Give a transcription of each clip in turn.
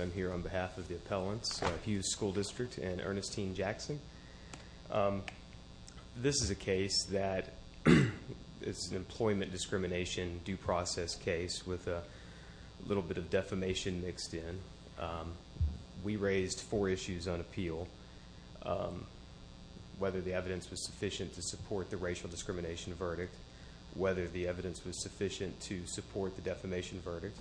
I'm here on behalf of the appellants, Hughes School District and Earnestine Jackson. This is a case that is an employment discrimination due process case with a little bit of defamation mixed in. We raised four issues on appeal. Whether the evidence was sufficient to support the racial discrimination verdict, whether the evidence was sufficient to support the defamation verdict,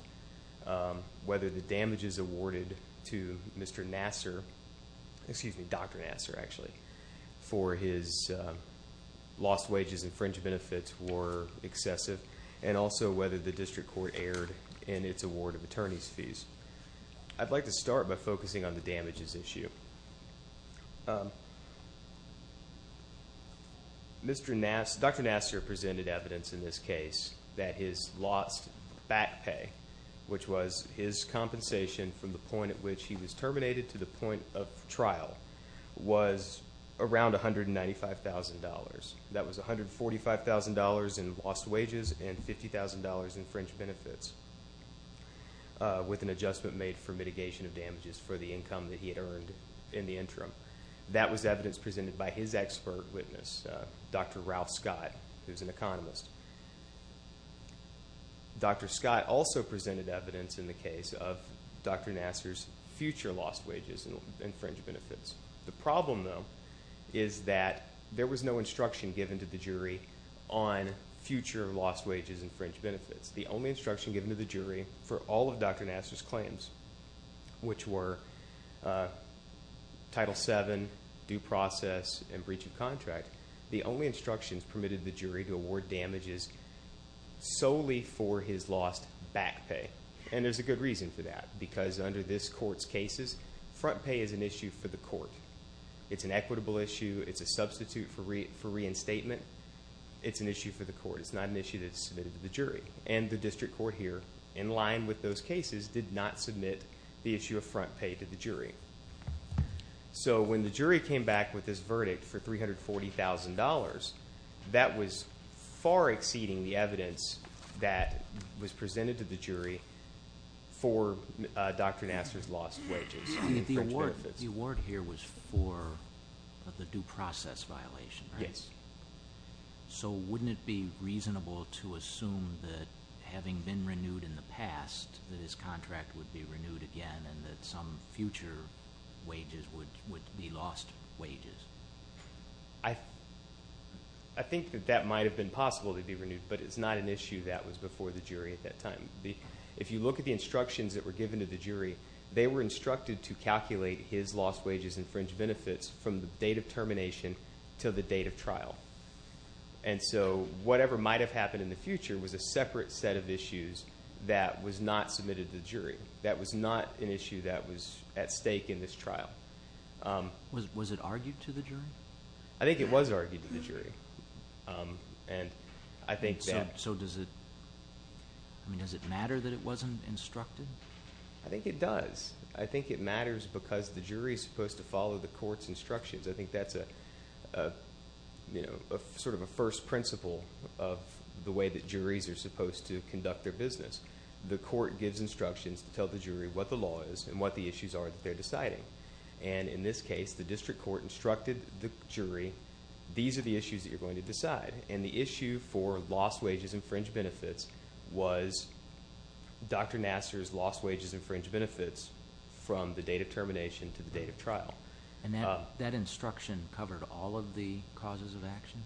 whether the damages awarded to Mr. Nassar, excuse me, Dr. Nassar actually, for his lost wages and fringe benefits were excessive and also whether the district court erred in its award of attorney's fees. I'd like to start by focusing on the damages issue. Dr. Nassar presented evidence in this case that his lost back pay, which was his compensation from the point at which he was terminated to the point of trial, was around $195,000. That was $145,000 in lost wages and $50,000 in fringe benefits with an adjustment made for mitigation of damages for the income that he had earned in the interim. That was evidence presented by his expert witness, Dr. Ralph Scott, who's an economist. Dr. Scott also presented evidence in the case of Dr. Nassar's future lost wages and fringe benefits. The problem, though, is that there was no instruction given to the jury on future lost wages and fringe benefits. The only instruction given to the jury for all of Dr. Nassar's claims, which were Title VII, due process, and breach of contract, the only instructions permitted the jury to award damages solely for his lost back pay. There's a good reason for that because under this court's cases, front pay is an issue for the court. It's an equitable issue. It's a substitute for reinstatement. It's an issue for the court. It's not an issue that's submitted to the jury. The district court here, in line with those cases, did not submit the issue of front pay to the jury. When the jury came back with this verdict for $340,000, that was far exceeding the evidence that was presented to the jury for Dr. Nassar's lost wages and fringe benefits. The award here was for the due process violation, right? Yes. Okay. So, wouldn't it be reasonable to assume that having been renewed in the past, that his contract would be renewed again and that some future wages would be lost wages? I think that that might have been possible to be renewed, but it's not an issue that was before the jury at that time. If you look at the instructions that were given to the jury, they were instructed to And so, whatever might have happened in the future was a separate set of issues that was not submitted to the jury. That was not an issue that was at stake in this trial. Was it argued to the jury? I think it was argued to the jury. I think that... So, does it matter that it wasn't instructed? I think it does. I think it matters because the jury is supposed to follow the court's instructions. I think that's sort of a first principle of the way that juries are supposed to conduct their business. The court gives instructions to tell the jury what the law is and what the issues are that they're deciding. And in this case, the district court instructed the jury, these are the issues that you're going to decide. And the issue for lost wages and fringe benefits was Dr. Nassar's lost wages and fringe benefits from the date of termination to the date of trial. And that instruction covered all of the causes of action?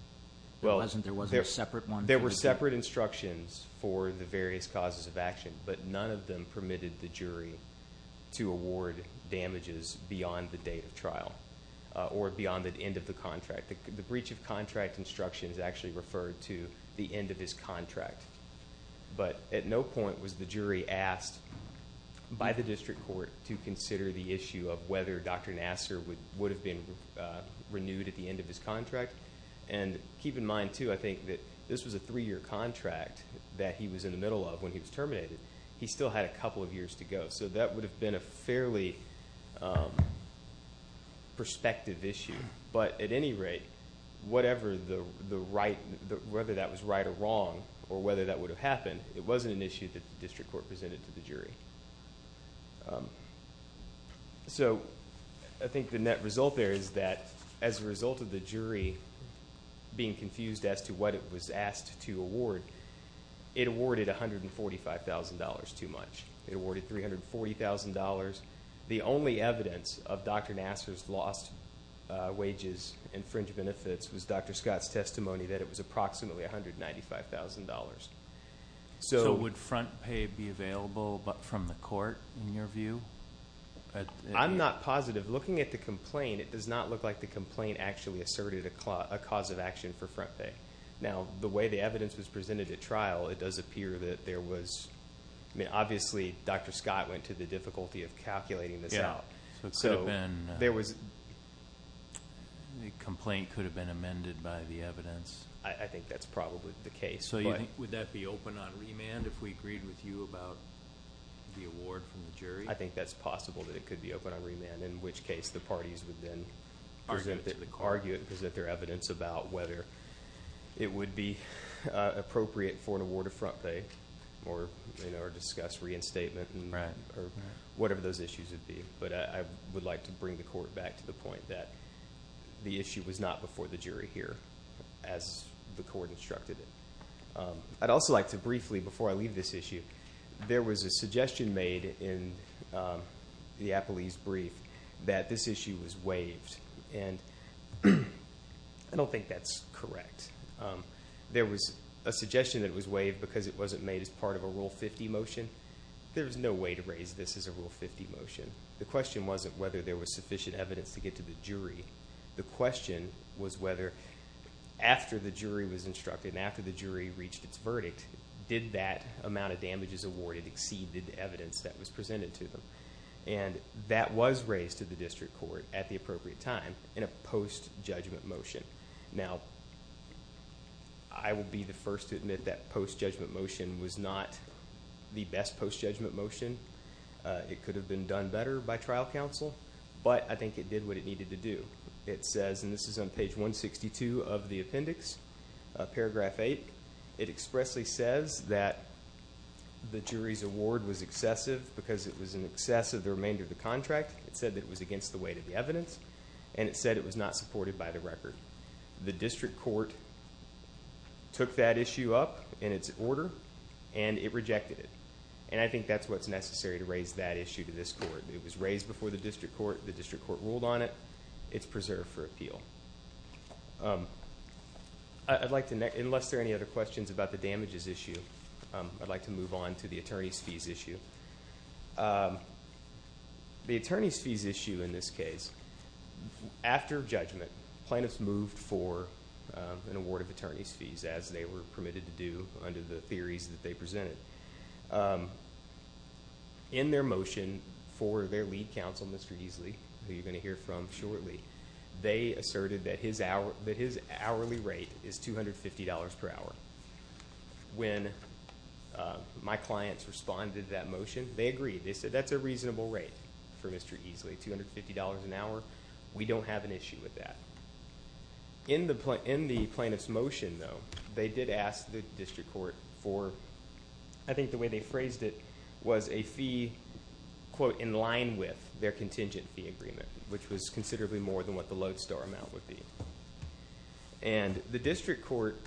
There wasn't a separate one? There were separate instructions for the various causes of action, but none of them permitted the jury to award damages beyond the date of trial or beyond the end of the contract. The breach of contract instruction is actually referred to the end of his contract. But at no point was the jury asked by the district court to consider the issue of whether Dr. Nassar would have been renewed at the end of his contract. And keep in mind, too, I think that this was a three-year contract that he was in the middle of when he was terminated. He still had a couple of years to go. So that would have been a fairly prospective issue. But at any rate, whatever the right, whether that was right or wrong, or whether that would have happened, it wasn't an issue that the district court presented to the jury. So I think the net result there is that as a result of the jury being confused as to what it was asked to award, it awarded $145,000 too much. It awarded $340,000. The only evidence of Dr. Nassar's lost wages and fringe benefits was Dr. Scott's testimony that it was approximately $195,000. So would front pay be available from the court, in your view? I'm not positive. Looking at the complaint, it does not look like the complaint actually asserted a cause of action for front pay. Now the way the evidence was presented at trial, it does appear that there was, I mean, obviously Dr. Scott went to the difficulty of calculating this out. So it could have been, the complaint could have been amended by the evidence. I think that's probably the case. Would that be open on remand if we agreed with you about the award from the jury? I think that's possible that it could be open on remand, in which case the parties would then argue it and present their evidence about whether it would be appropriate for an award of front pay or discuss reinstatement or whatever those issues would be. But I would like to bring the court back to the point that the issue was not before the I'd also like to briefly, before I leave this issue, there was a suggestion made in the Appelee's brief that this issue was waived, and I don't think that's correct. There was a suggestion that it was waived because it wasn't made as part of a Rule 50 motion. There's no way to raise this as a Rule 50 motion. The question wasn't whether there was sufficient evidence to get to the jury. The question was whether after the jury was instructed and after the jury reached its verdict, did that amount of damages awarded exceed the evidence that was presented to them? That was raised to the district court at the appropriate time in a post-judgment motion. I will be the first to admit that post-judgment motion was not the best post-judgment motion. It could have been done better by trial counsel, but I think it did what it needed to do. It says, and this is on page 162 of the appendix, paragraph 8, it expressly says that the jury's award was excessive because it was in excess of the remainder of the contract. It said that it was against the weight of the evidence, and it said it was not supported by the record. The district court took that issue up in its order and it rejected it, and I think that's what's necessary to raise that issue to this court. It was raised before the district court. The district court ruled on it. It's preserved for appeal. Unless there are any other questions about the damages issue, I'd like to move on to the attorney's fees issue. The attorney's fees issue in this case, after judgment, plaintiffs moved for an award of In their motion for their lead counsel, Mr. Easley, who you're going to hear from shortly, they asserted that his hourly rate is $250 per hour. When my clients responded to that motion, they agreed. They said, that's a reasonable rate for Mr. Easley, $250 an hour. We don't have an issue with that. In the plaintiff's motion, though, they did ask the district court for, I think the way they phrased it, was a fee, quote, in line with their contingent fee agreement, which was considerably more than what the lodestar amount would be. The district court,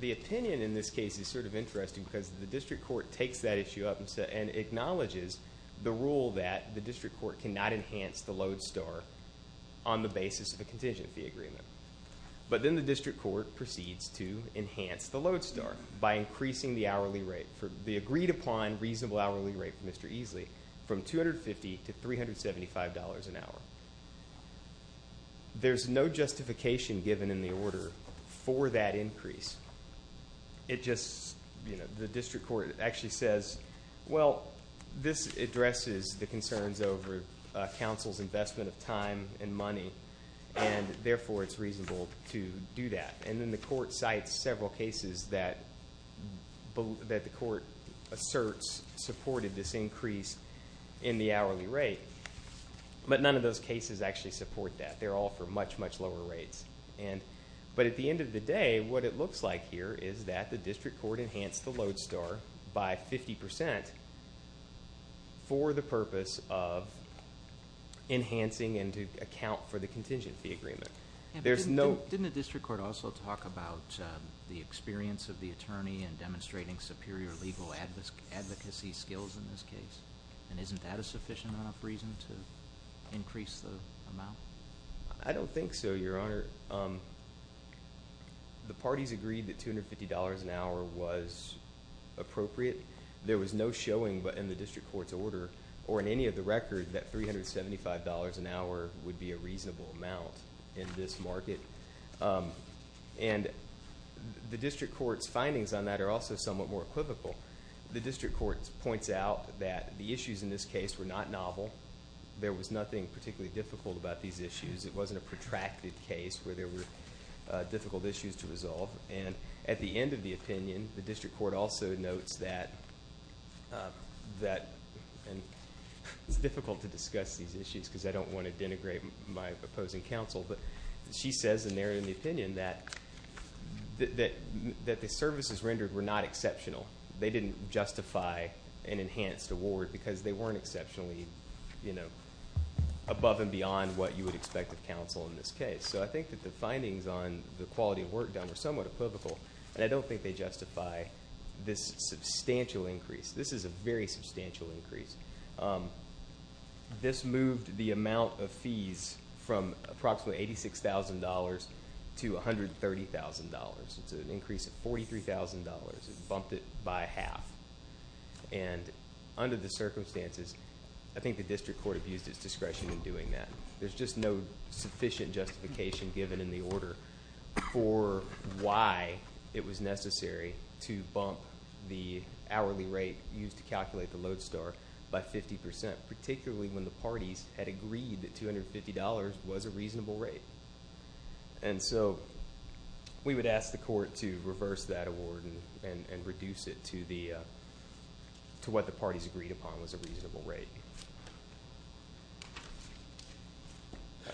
the opinion in this case is sort of interesting because the district court takes that issue up and acknowledges the rule that the district court cannot enhance the lodestar on the basis of a contingent fee agreement. But then the district court proceeds to enhance the lodestar by increasing the hourly rate. The agreed upon reasonable hourly rate for Mr. Easley from $250 to $375 an hour. There's no justification given in the order for that increase. It just, the district court actually says, well, this addresses the concerns over counsel's investment of time and money, and therefore it's reasonable to do that. And then the court cites several cases that the court asserts supported this increase in the hourly rate, but none of those cases actually support that. They're all for much, much lower rates. But at the end of the day, what it looks like here is that the district court enhanced the lodestar by 50% for the purpose of enhancing and to account for the contingent fee agreement. There's no- Didn't the district court also talk about the experience of the attorney in demonstrating superior legal advocacy skills in this case? And isn't that a sufficient enough reason to increase the amount? I don't think so, Your Honor. The parties agreed that $250 an hour was appropriate. There was no showing but in the district court's order or in any of the record that $375 an hour is a reasonable amount in this market. And the district court's findings on that are also somewhat more equivocal. The district court points out that the issues in this case were not novel. There was nothing particularly difficult about these issues. It wasn't a protracted case where there were difficult issues to resolve. And at the end of the opinion, the district court also notes that it's difficult to discuss these issues because I don't want to denigrate my opposing counsel. But she says in there in the opinion that the services rendered were not exceptional. They didn't justify an enhanced award because they weren't exceptionally, you know, above and beyond what you would expect of counsel in this case. So I think that the findings on the quality of work done were somewhat equivocal and I don't think they justify this substantial increase. This is a very substantial increase. This moved the amount of fees from approximately $86,000 to $130,000. It's an increase of $43,000. It bumped it by half. And under the circumstances, I think the district court abused its discretion in doing that. There's just no sufficient justification given in the order for why it was necessary to bump the hourly rate used to calculate the Lodestar by 50%, particularly when the parties had agreed that $250 was a reasonable rate. And so we would ask the court to reverse that award and reduce it to what the parties agreed upon was a reasonable rate.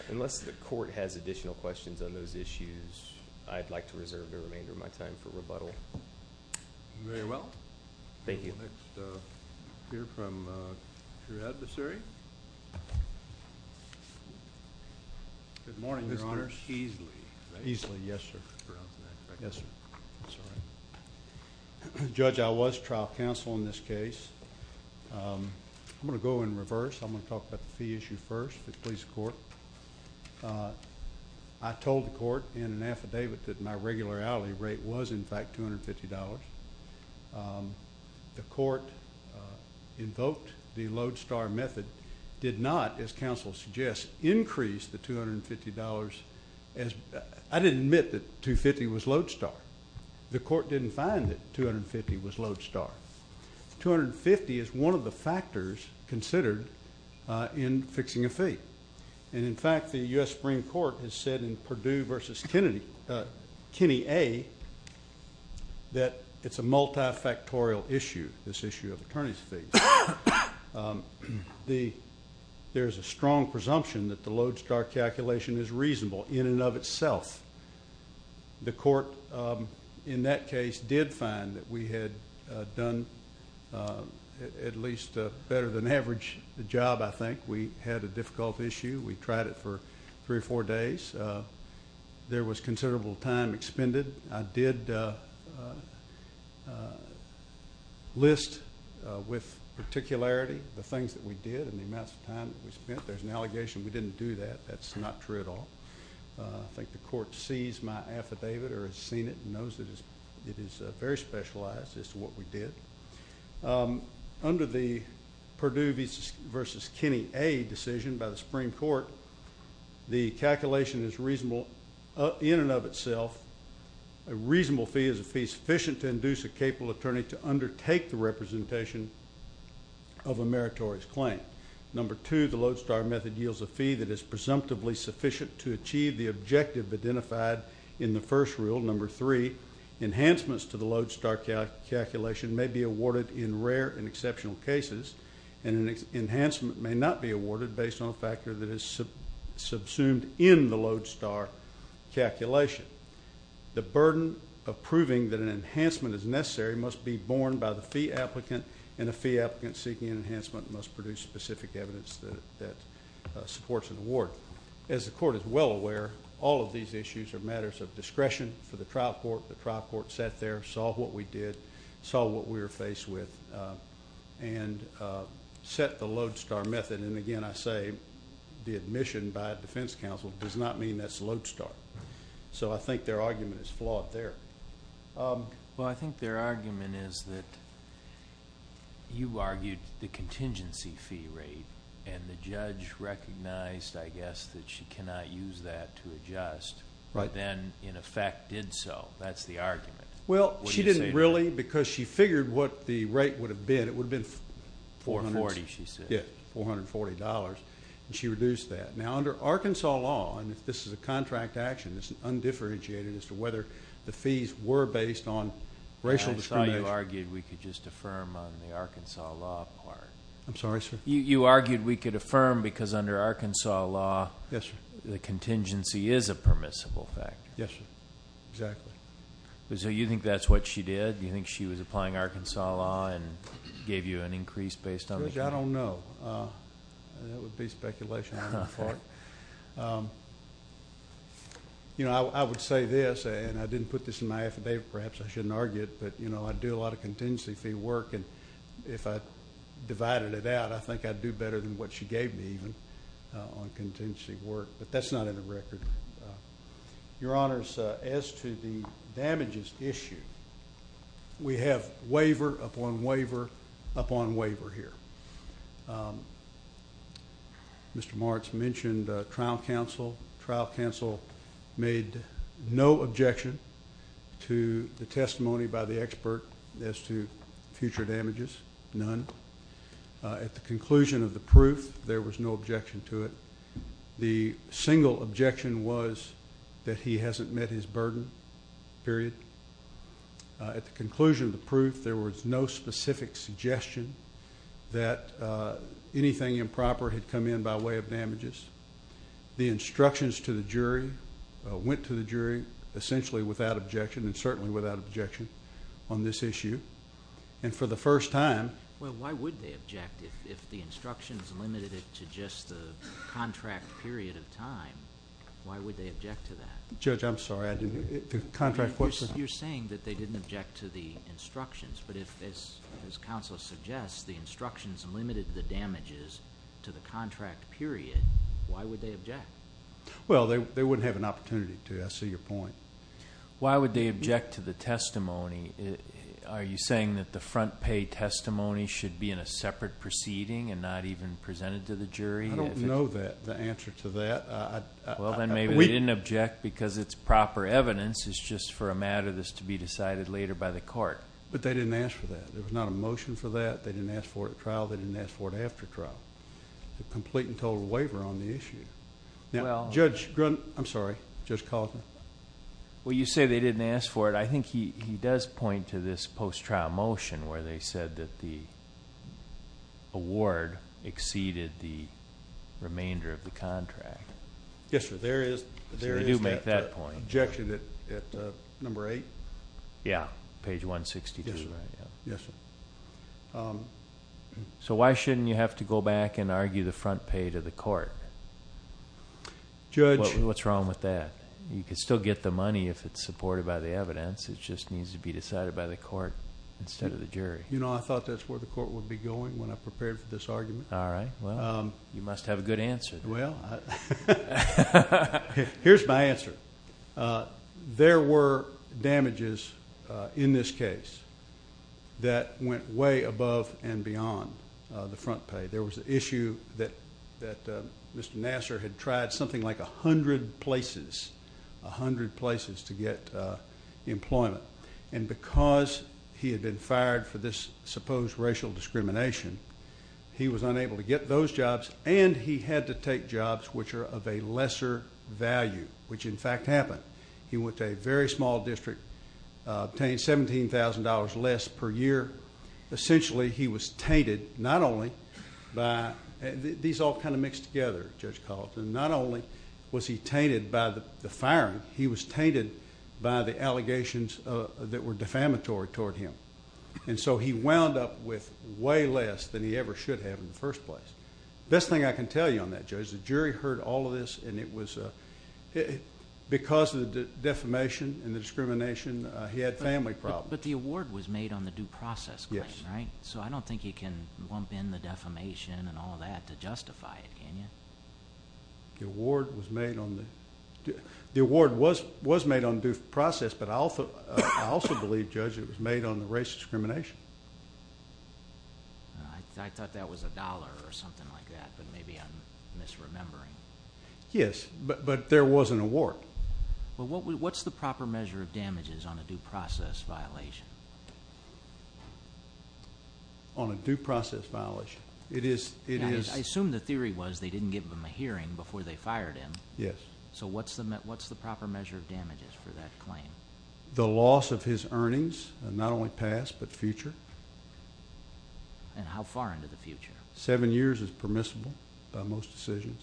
Unless the court has additional questions on those issues, I'd like to reserve the remainder of my time for rebuttal. Very well. Thank you. We'll next hear from your adversary. Good morning, Your Honor. Mr. Eesley, right? Eesley, yes, sir. Yes, sir. That's all right. Judge, I was trial counsel in this case. I'm going to go in reverse. I'm going to talk about the fee issue first, the police court. I told the court in an affidavit that my regular hourly rate was, in fact, $250. The court invoked the Lodestar method, did not, as counsel suggests, increase the $250. I didn't admit that $250 was Lodestar. The court didn't find that $250 was Lodestar. $250 is one of the factors considered in fixing a fee. And, in fact, the U.S. Supreme Court has said in Perdue v. Kennedy, that it's a multifactorial issue, this issue of attorney's fees. There's a strong presumption that the Lodestar calculation is reasonable in and of itself. The court, in that case, did find that we had done at least a better than average job, I think. We had a difficult issue. We tried it for three or four days. There was considerable time expended. I did list with particularity the things that we did and the amounts of time that we spent. There's an allegation we didn't do that. That's not true at all. I think the court sees my affidavit or has seen it and knows it is very specialized as to what we did. Under the Perdue v. Kennedy A decision by the Supreme Court, the calculation is reasonable in and of itself. A reasonable fee is a fee sufficient to induce a capable attorney to undertake the representation of a meritorious claim. Number two, the Lodestar method yields a fee that is presumptively sufficient to achieve the objective identified in the first rule. Number three, enhancements to the Lodestar calculation may be awarded in rare and exceptional cases, and an enhancement may not be awarded based on a factor that is subsumed in the Lodestar calculation. The burden of proving that an enhancement is necessary must be borne by the fee applicant, and a fee applicant seeking an enhancement must produce specific evidence that supports an award. As the court is well aware, all of these issues are matters of discretion for the trial court. The trial court sat there, saw what we did, saw what we were faced with, and set the Lodestar method. And, again, I say the admission by a defense counsel does not mean that's Lodestar. So I think their argument is flawed there. Well, I think their argument is that you argued the contingency fee rate, and the judge recognized, I guess, that she cannot use that to adjust, but then, in effect, did so. That's the argument. Well, she didn't really because she figured what the rate would have been. It would have been $440, she said. Yes, $440, and she reduced that. Now, under Arkansas law, and if this is a contract action, it's undifferentiated as to whether the fees were based on racial discrimination. I saw you argued we could just affirm on the Arkansas law part. I'm sorry, sir? You argued we could affirm because, under Arkansas law, the contingency is a permissible factor. Yes, sir, exactly. So you think that's what she did? Do you think she was applying Arkansas law and gave you an increase based on the fee? Judge, I don't know. That would be speculation. I would say this, and I didn't put this in my affidavit, perhaps I shouldn't argue it, but I do a lot of contingency fee work, and if I divided it out, I think I'd do better than what she gave me even on contingency work, but that's not in the record. Your Honors, as to the damages issue, we have waiver upon waiver upon waiver here. Mr. Martz mentioned trial counsel. Trial counsel made no objection to the testimony by the expert as to future damages, none. At the conclusion of the proof, there was no objection to it. The single objection was that he hasn't met his burden, period. At the conclusion of the proof, there was no specific suggestion that anything improper had come in by way of damages. The instructions to the jury went to the jury essentially without objection and certainly without objection on this issue, and for the first time. Well, why would they object if the instructions limited it to just the contract period of time? Why would they object to that? Judge, I'm sorry. You're saying that they didn't object to the instructions, but if, as counsel suggests, the instructions limited the damages to the contract period, why would they object? Well, they wouldn't have an opportunity to. I see your point. Why would they object to the testimony? Are you saying that the front pay testimony should be in a separate proceeding and not even presented to the jury? I don't know the answer to that. Well, then maybe they didn't object because it's proper evidence. It's just for a matter that's to be decided later by the court. But they didn't ask for that. There was not a motion for that. They didn't ask for it at trial. They didn't ask for it after trial. It's a complete and total waiver on the issue. Now, Judge Grunt. I'm sorry. Judge Cosner. Well, you say they didn't ask for it. But I think he does point to this post-trial motion where they said that the award exceeded the remainder of the contract. Yes, sir. There is that objection at number eight. Yeah. Page 162. Yes, sir. So why shouldn't you have to go back and argue the front pay to the court? Judge. What's wrong with that? You could still get the money if it's supported by the evidence. It just needs to be decided by the court instead of the jury. You know, I thought that's where the court would be going when I prepared for this argument. All right. Well, you must have a good answer. Well, here's my answer. There were damages in this case that went way above and beyond the front pay. There was an issue that Mr. Nassar had tried something like a hundred places, a hundred places to get employment. And because he had been fired for this supposed racial discrimination, he was unable to get those jobs, and he had to take jobs which are of a lesser value, which, in fact, happened. He went to a very small district, obtained $17,000 less per year. Essentially, he was tainted not only by these all kind of mixed together, Judge Carlton, not only was he tainted by the firing, he was tainted by the allegations that were defamatory toward him. And so he wound up with way less than he ever should have in the first place. Best thing I can tell you on that, Judge, the jury heard all of this, and it was because of the defamation and the discrimination, he had family problems. But the award was made on the due process claim, right? Yes. So I don't think you can lump in the defamation and all that to justify it, can you? The award was made on the due process, but I also believe, Judge, it was made on the race discrimination. I thought that was a dollar or something like that, but maybe I'm misremembering. Yes, but there was an award. Well, what's the proper measure of damages on a due process violation? On a due process violation? I assume the theory was they didn't give him a hearing before they fired him. Yes. So what's the proper measure of damages for that claim? The loss of his earnings, not only past but future. And how far into the future? Seven years is permissible by most decisions.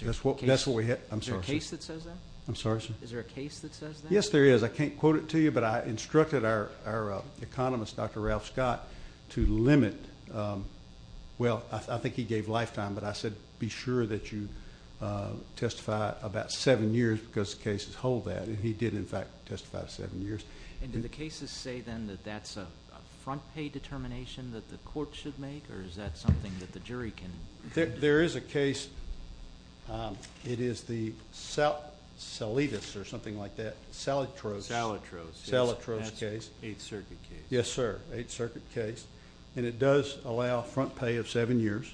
Is there a case that says that? I'm sorry, sir? Is there a case that says that? Yes, there is. I can't quote it to you, but I instructed our economist, Dr. Ralph Scott, to limit. Well, I think he gave lifetime, but I said be sure that you testify about seven years because cases hold that, and he did, in fact, testify to seven years. And do the cases say, then, that that's a front pay determination that the court should make, or is that something that the jury can do? There is a case. It is the Saletus or something like that. Salitros. Salitros. Salitros case. Eighth Circuit case. Yes, sir. Eighth Circuit case. And it does allow front pay of seven years,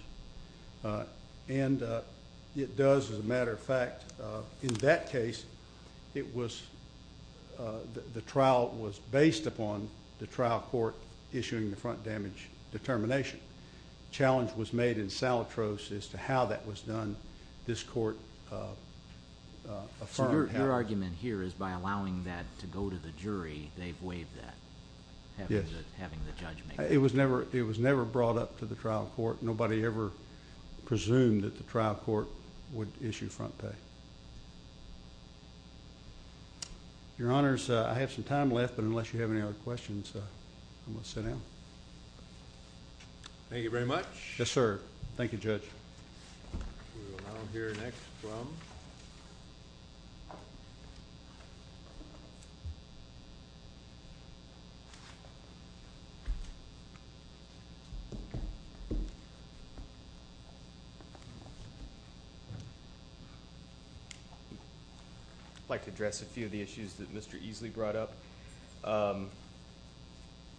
and it does, as a matter of fact, in that case, the trial was based upon the trial court issuing the front damage determination. The challenge was made in Salitros as to how that was done. This court affirmed how. So your argument here is by allowing that to go to the jury, they've waived that, having the judge make it? Yes. It was never brought up to the trial court. Nobody ever presumed that the trial court would issue front pay. Your Honors, I have some time left, but unless you have any other questions, I'm going to sit down. Thank you very much. Yes, sir. Thank you, Judge. We will now hear next from. I'd like to address a few of the issues that Mr. Easley brought up.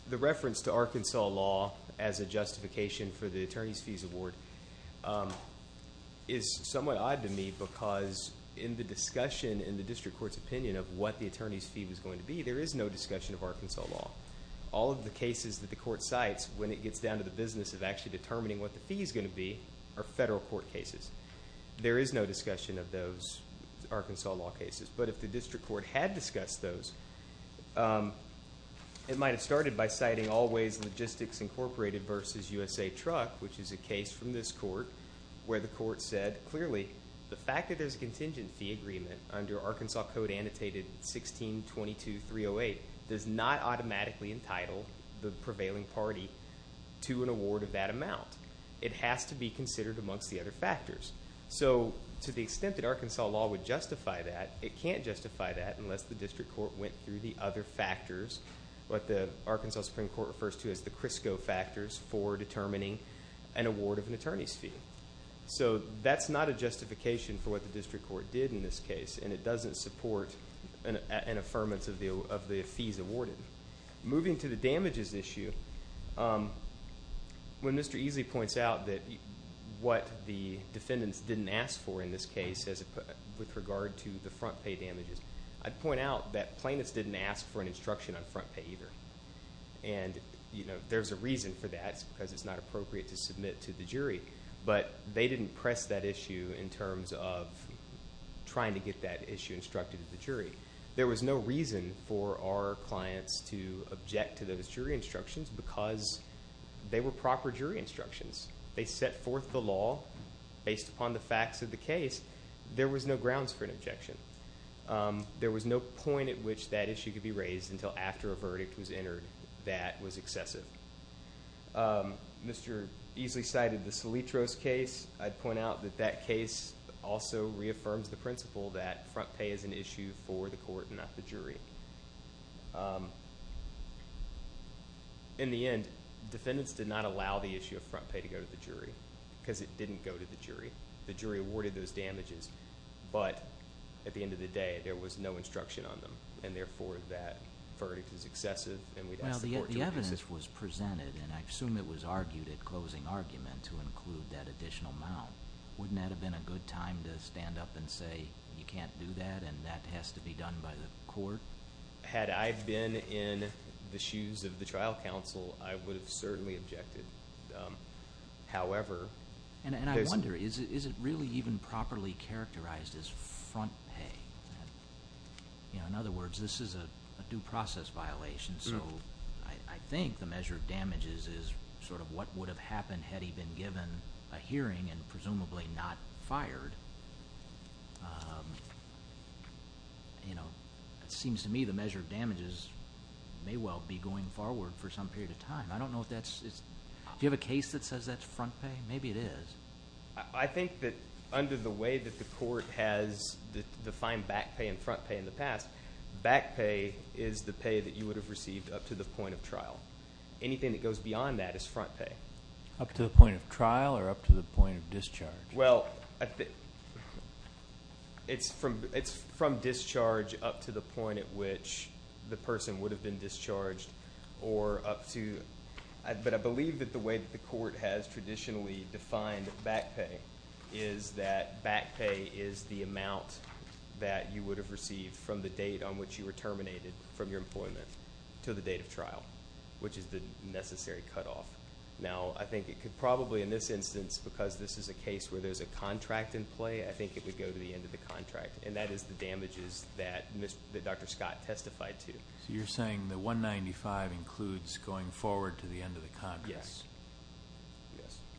The reference to Arkansas law as a justification for the attorney's fees award is somewhat odd to me because in the discussion in the district court's opinion of what the attorney's fee was going to be, there is no discussion of Arkansas law. All of the cases that the court cites, when it gets down to the business of actually determining what the fee is going to be, are federal court cases. There is no discussion of those Arkansas law cases. But if the district court had discussed those, it might have started by citing Allways Logistics Incorporated v. USA Truck, which is a case from this court, where the court said, clearly, the fact that there's a contingent fee agreement under Arkansas Code Annotated 1622308 does not automatically entitle the prevailing party to an award of that amount. It has to be considered amongst the other factors. So to the extent that Arkansas law would justify that, it can't justify that unless the district court went through the other factors, what the Arkansas Supreme Court refers to as the CRISCO factors for determining an award of an attorney's fee. So that's not a justification for what the district court did in this case, and it doesn't support an affirmance of the fees awarded. Moving to the damages issue, when Mr. Easley points out what the defendants didn't ask for in this case with regard to the front pay damages, I'd point out that plaintiffs didn't ask for an instruction on front pay either. And there's a reason for that, because it's not appropriate to submit to the jury. But they didn't press that issue in terms of trying to get that issue instructed to the jury. There was no reason for our clients to object to those jury instructions because they were proper jury instructions. They set forth the law based upon the facts of the case. There was no grounds for an objection. There was no point at which that issue could be raised until after a verdict was entered. That was excessive. Mr. Easley cited the Solitros case. I'd point out that that case also reaffirms the principle that front pay is an issue for the court and not the jury. In the end, defendants did not allow the issue of front pay to go to the jury because it didn't go to the jury. The jury awarded those damages, but at the end of the day, there was no instruction on them. And therefore, that verdict is excessive, and we'd ask the court to reconsider. If the evidence was presented, and I assume it was argued at closing argument to include that additional amount, wouldn't that have been a good time to stand up and say, you can't do that, and that has to be done by the court? Had I been in the shoes of the trial counsel, I would have certainly objected. And I wonder, is it really even properly characterized as front pay? In other words, this is a due process violation, so I think the measure of damages is sort of what would have happened had he been given a hearing and presumably not fired. It seems to me the measure of damages may well be going forward for some period of time. Do you have a case that says that's front pay? Maybe it is. I think that under the way that the court has defined back pay and front pay in the past, back pay is the pay that you would have received up to the point of trial. Anything that goes beyond that is front pay. Up to the point of trial, or up to the point of discharge? Well, it's from discharge up to the point at which the person would have been discharged, or up to... is that back pay is the amount that you would have received from the date on which you were terminated from your employment to the date of trial, which is the necessary cutoff. Now, I think it could probably, in this instance, because this is a case where there's a contract in play, I think it would go to the end of the contract. And that is the damages that Dr. Scott testified to. So you're saying the $195,000 includes going forward to the end of the contract? Yes.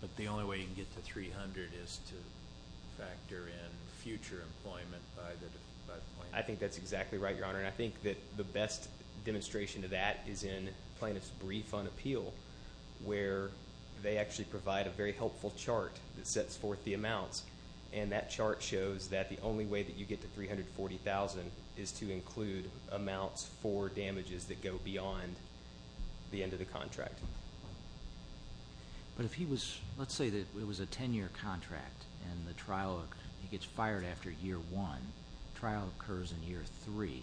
But the only way you can get to $300,000 is to factor in future employment by the plaintiff? I think that's exactly right, Your Honor. And I think that the best demonstration to that is in Plaintiff's Brief on Appeal, where they actually provide a very helpful chart that sets forth the amounts. And that chart shows that the only way that you get to $340,000 is to include amounts for damages that go beyond the end of the contract. But if he was... let's say that it was a ten-year contract and the trial gets fired after year one. The trial occurs in year three.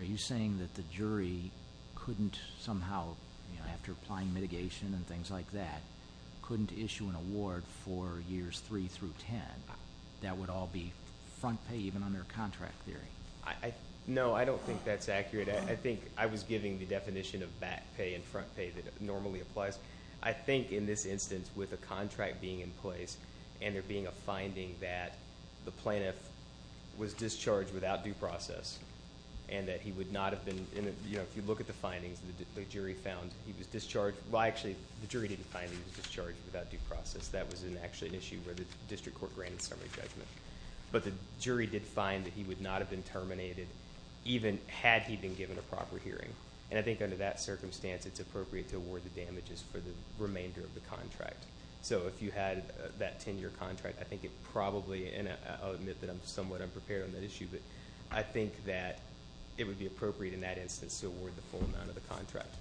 Are you saying that the jury couldn't somehow, after applying mitigation and things like that, couldn't issue an award for years three through ten? That would all be front pay even under a contract theory? No, I don't think that's accurate. I think I was giving the definition of back pay and front pay that normally applies. I think in this instance, with a contract being in place, and there being a finding that the plaintiff was discharged without due process, and that he would not have been... If you look at the findings, the jury found he was discharged... Well, actually, the jury didn't find he was discharged without due process. That was actually an issue where the district court granted summary judgment. But the jury did find that he would not have been terminated even had he been given a proper hearing. And I think under that circumstance, it's appropriate to award the damages for the remainder of the contract. So if you had that ten-year contract, I think it probably... And I'll admit that I'm somewhat unprepared on that issue, but I think that it would be appropriate in that instance to award the full amount of the contract.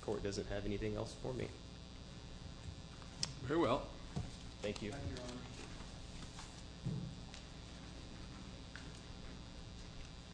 The court doesn't have anything else for me. Very well. Thank you.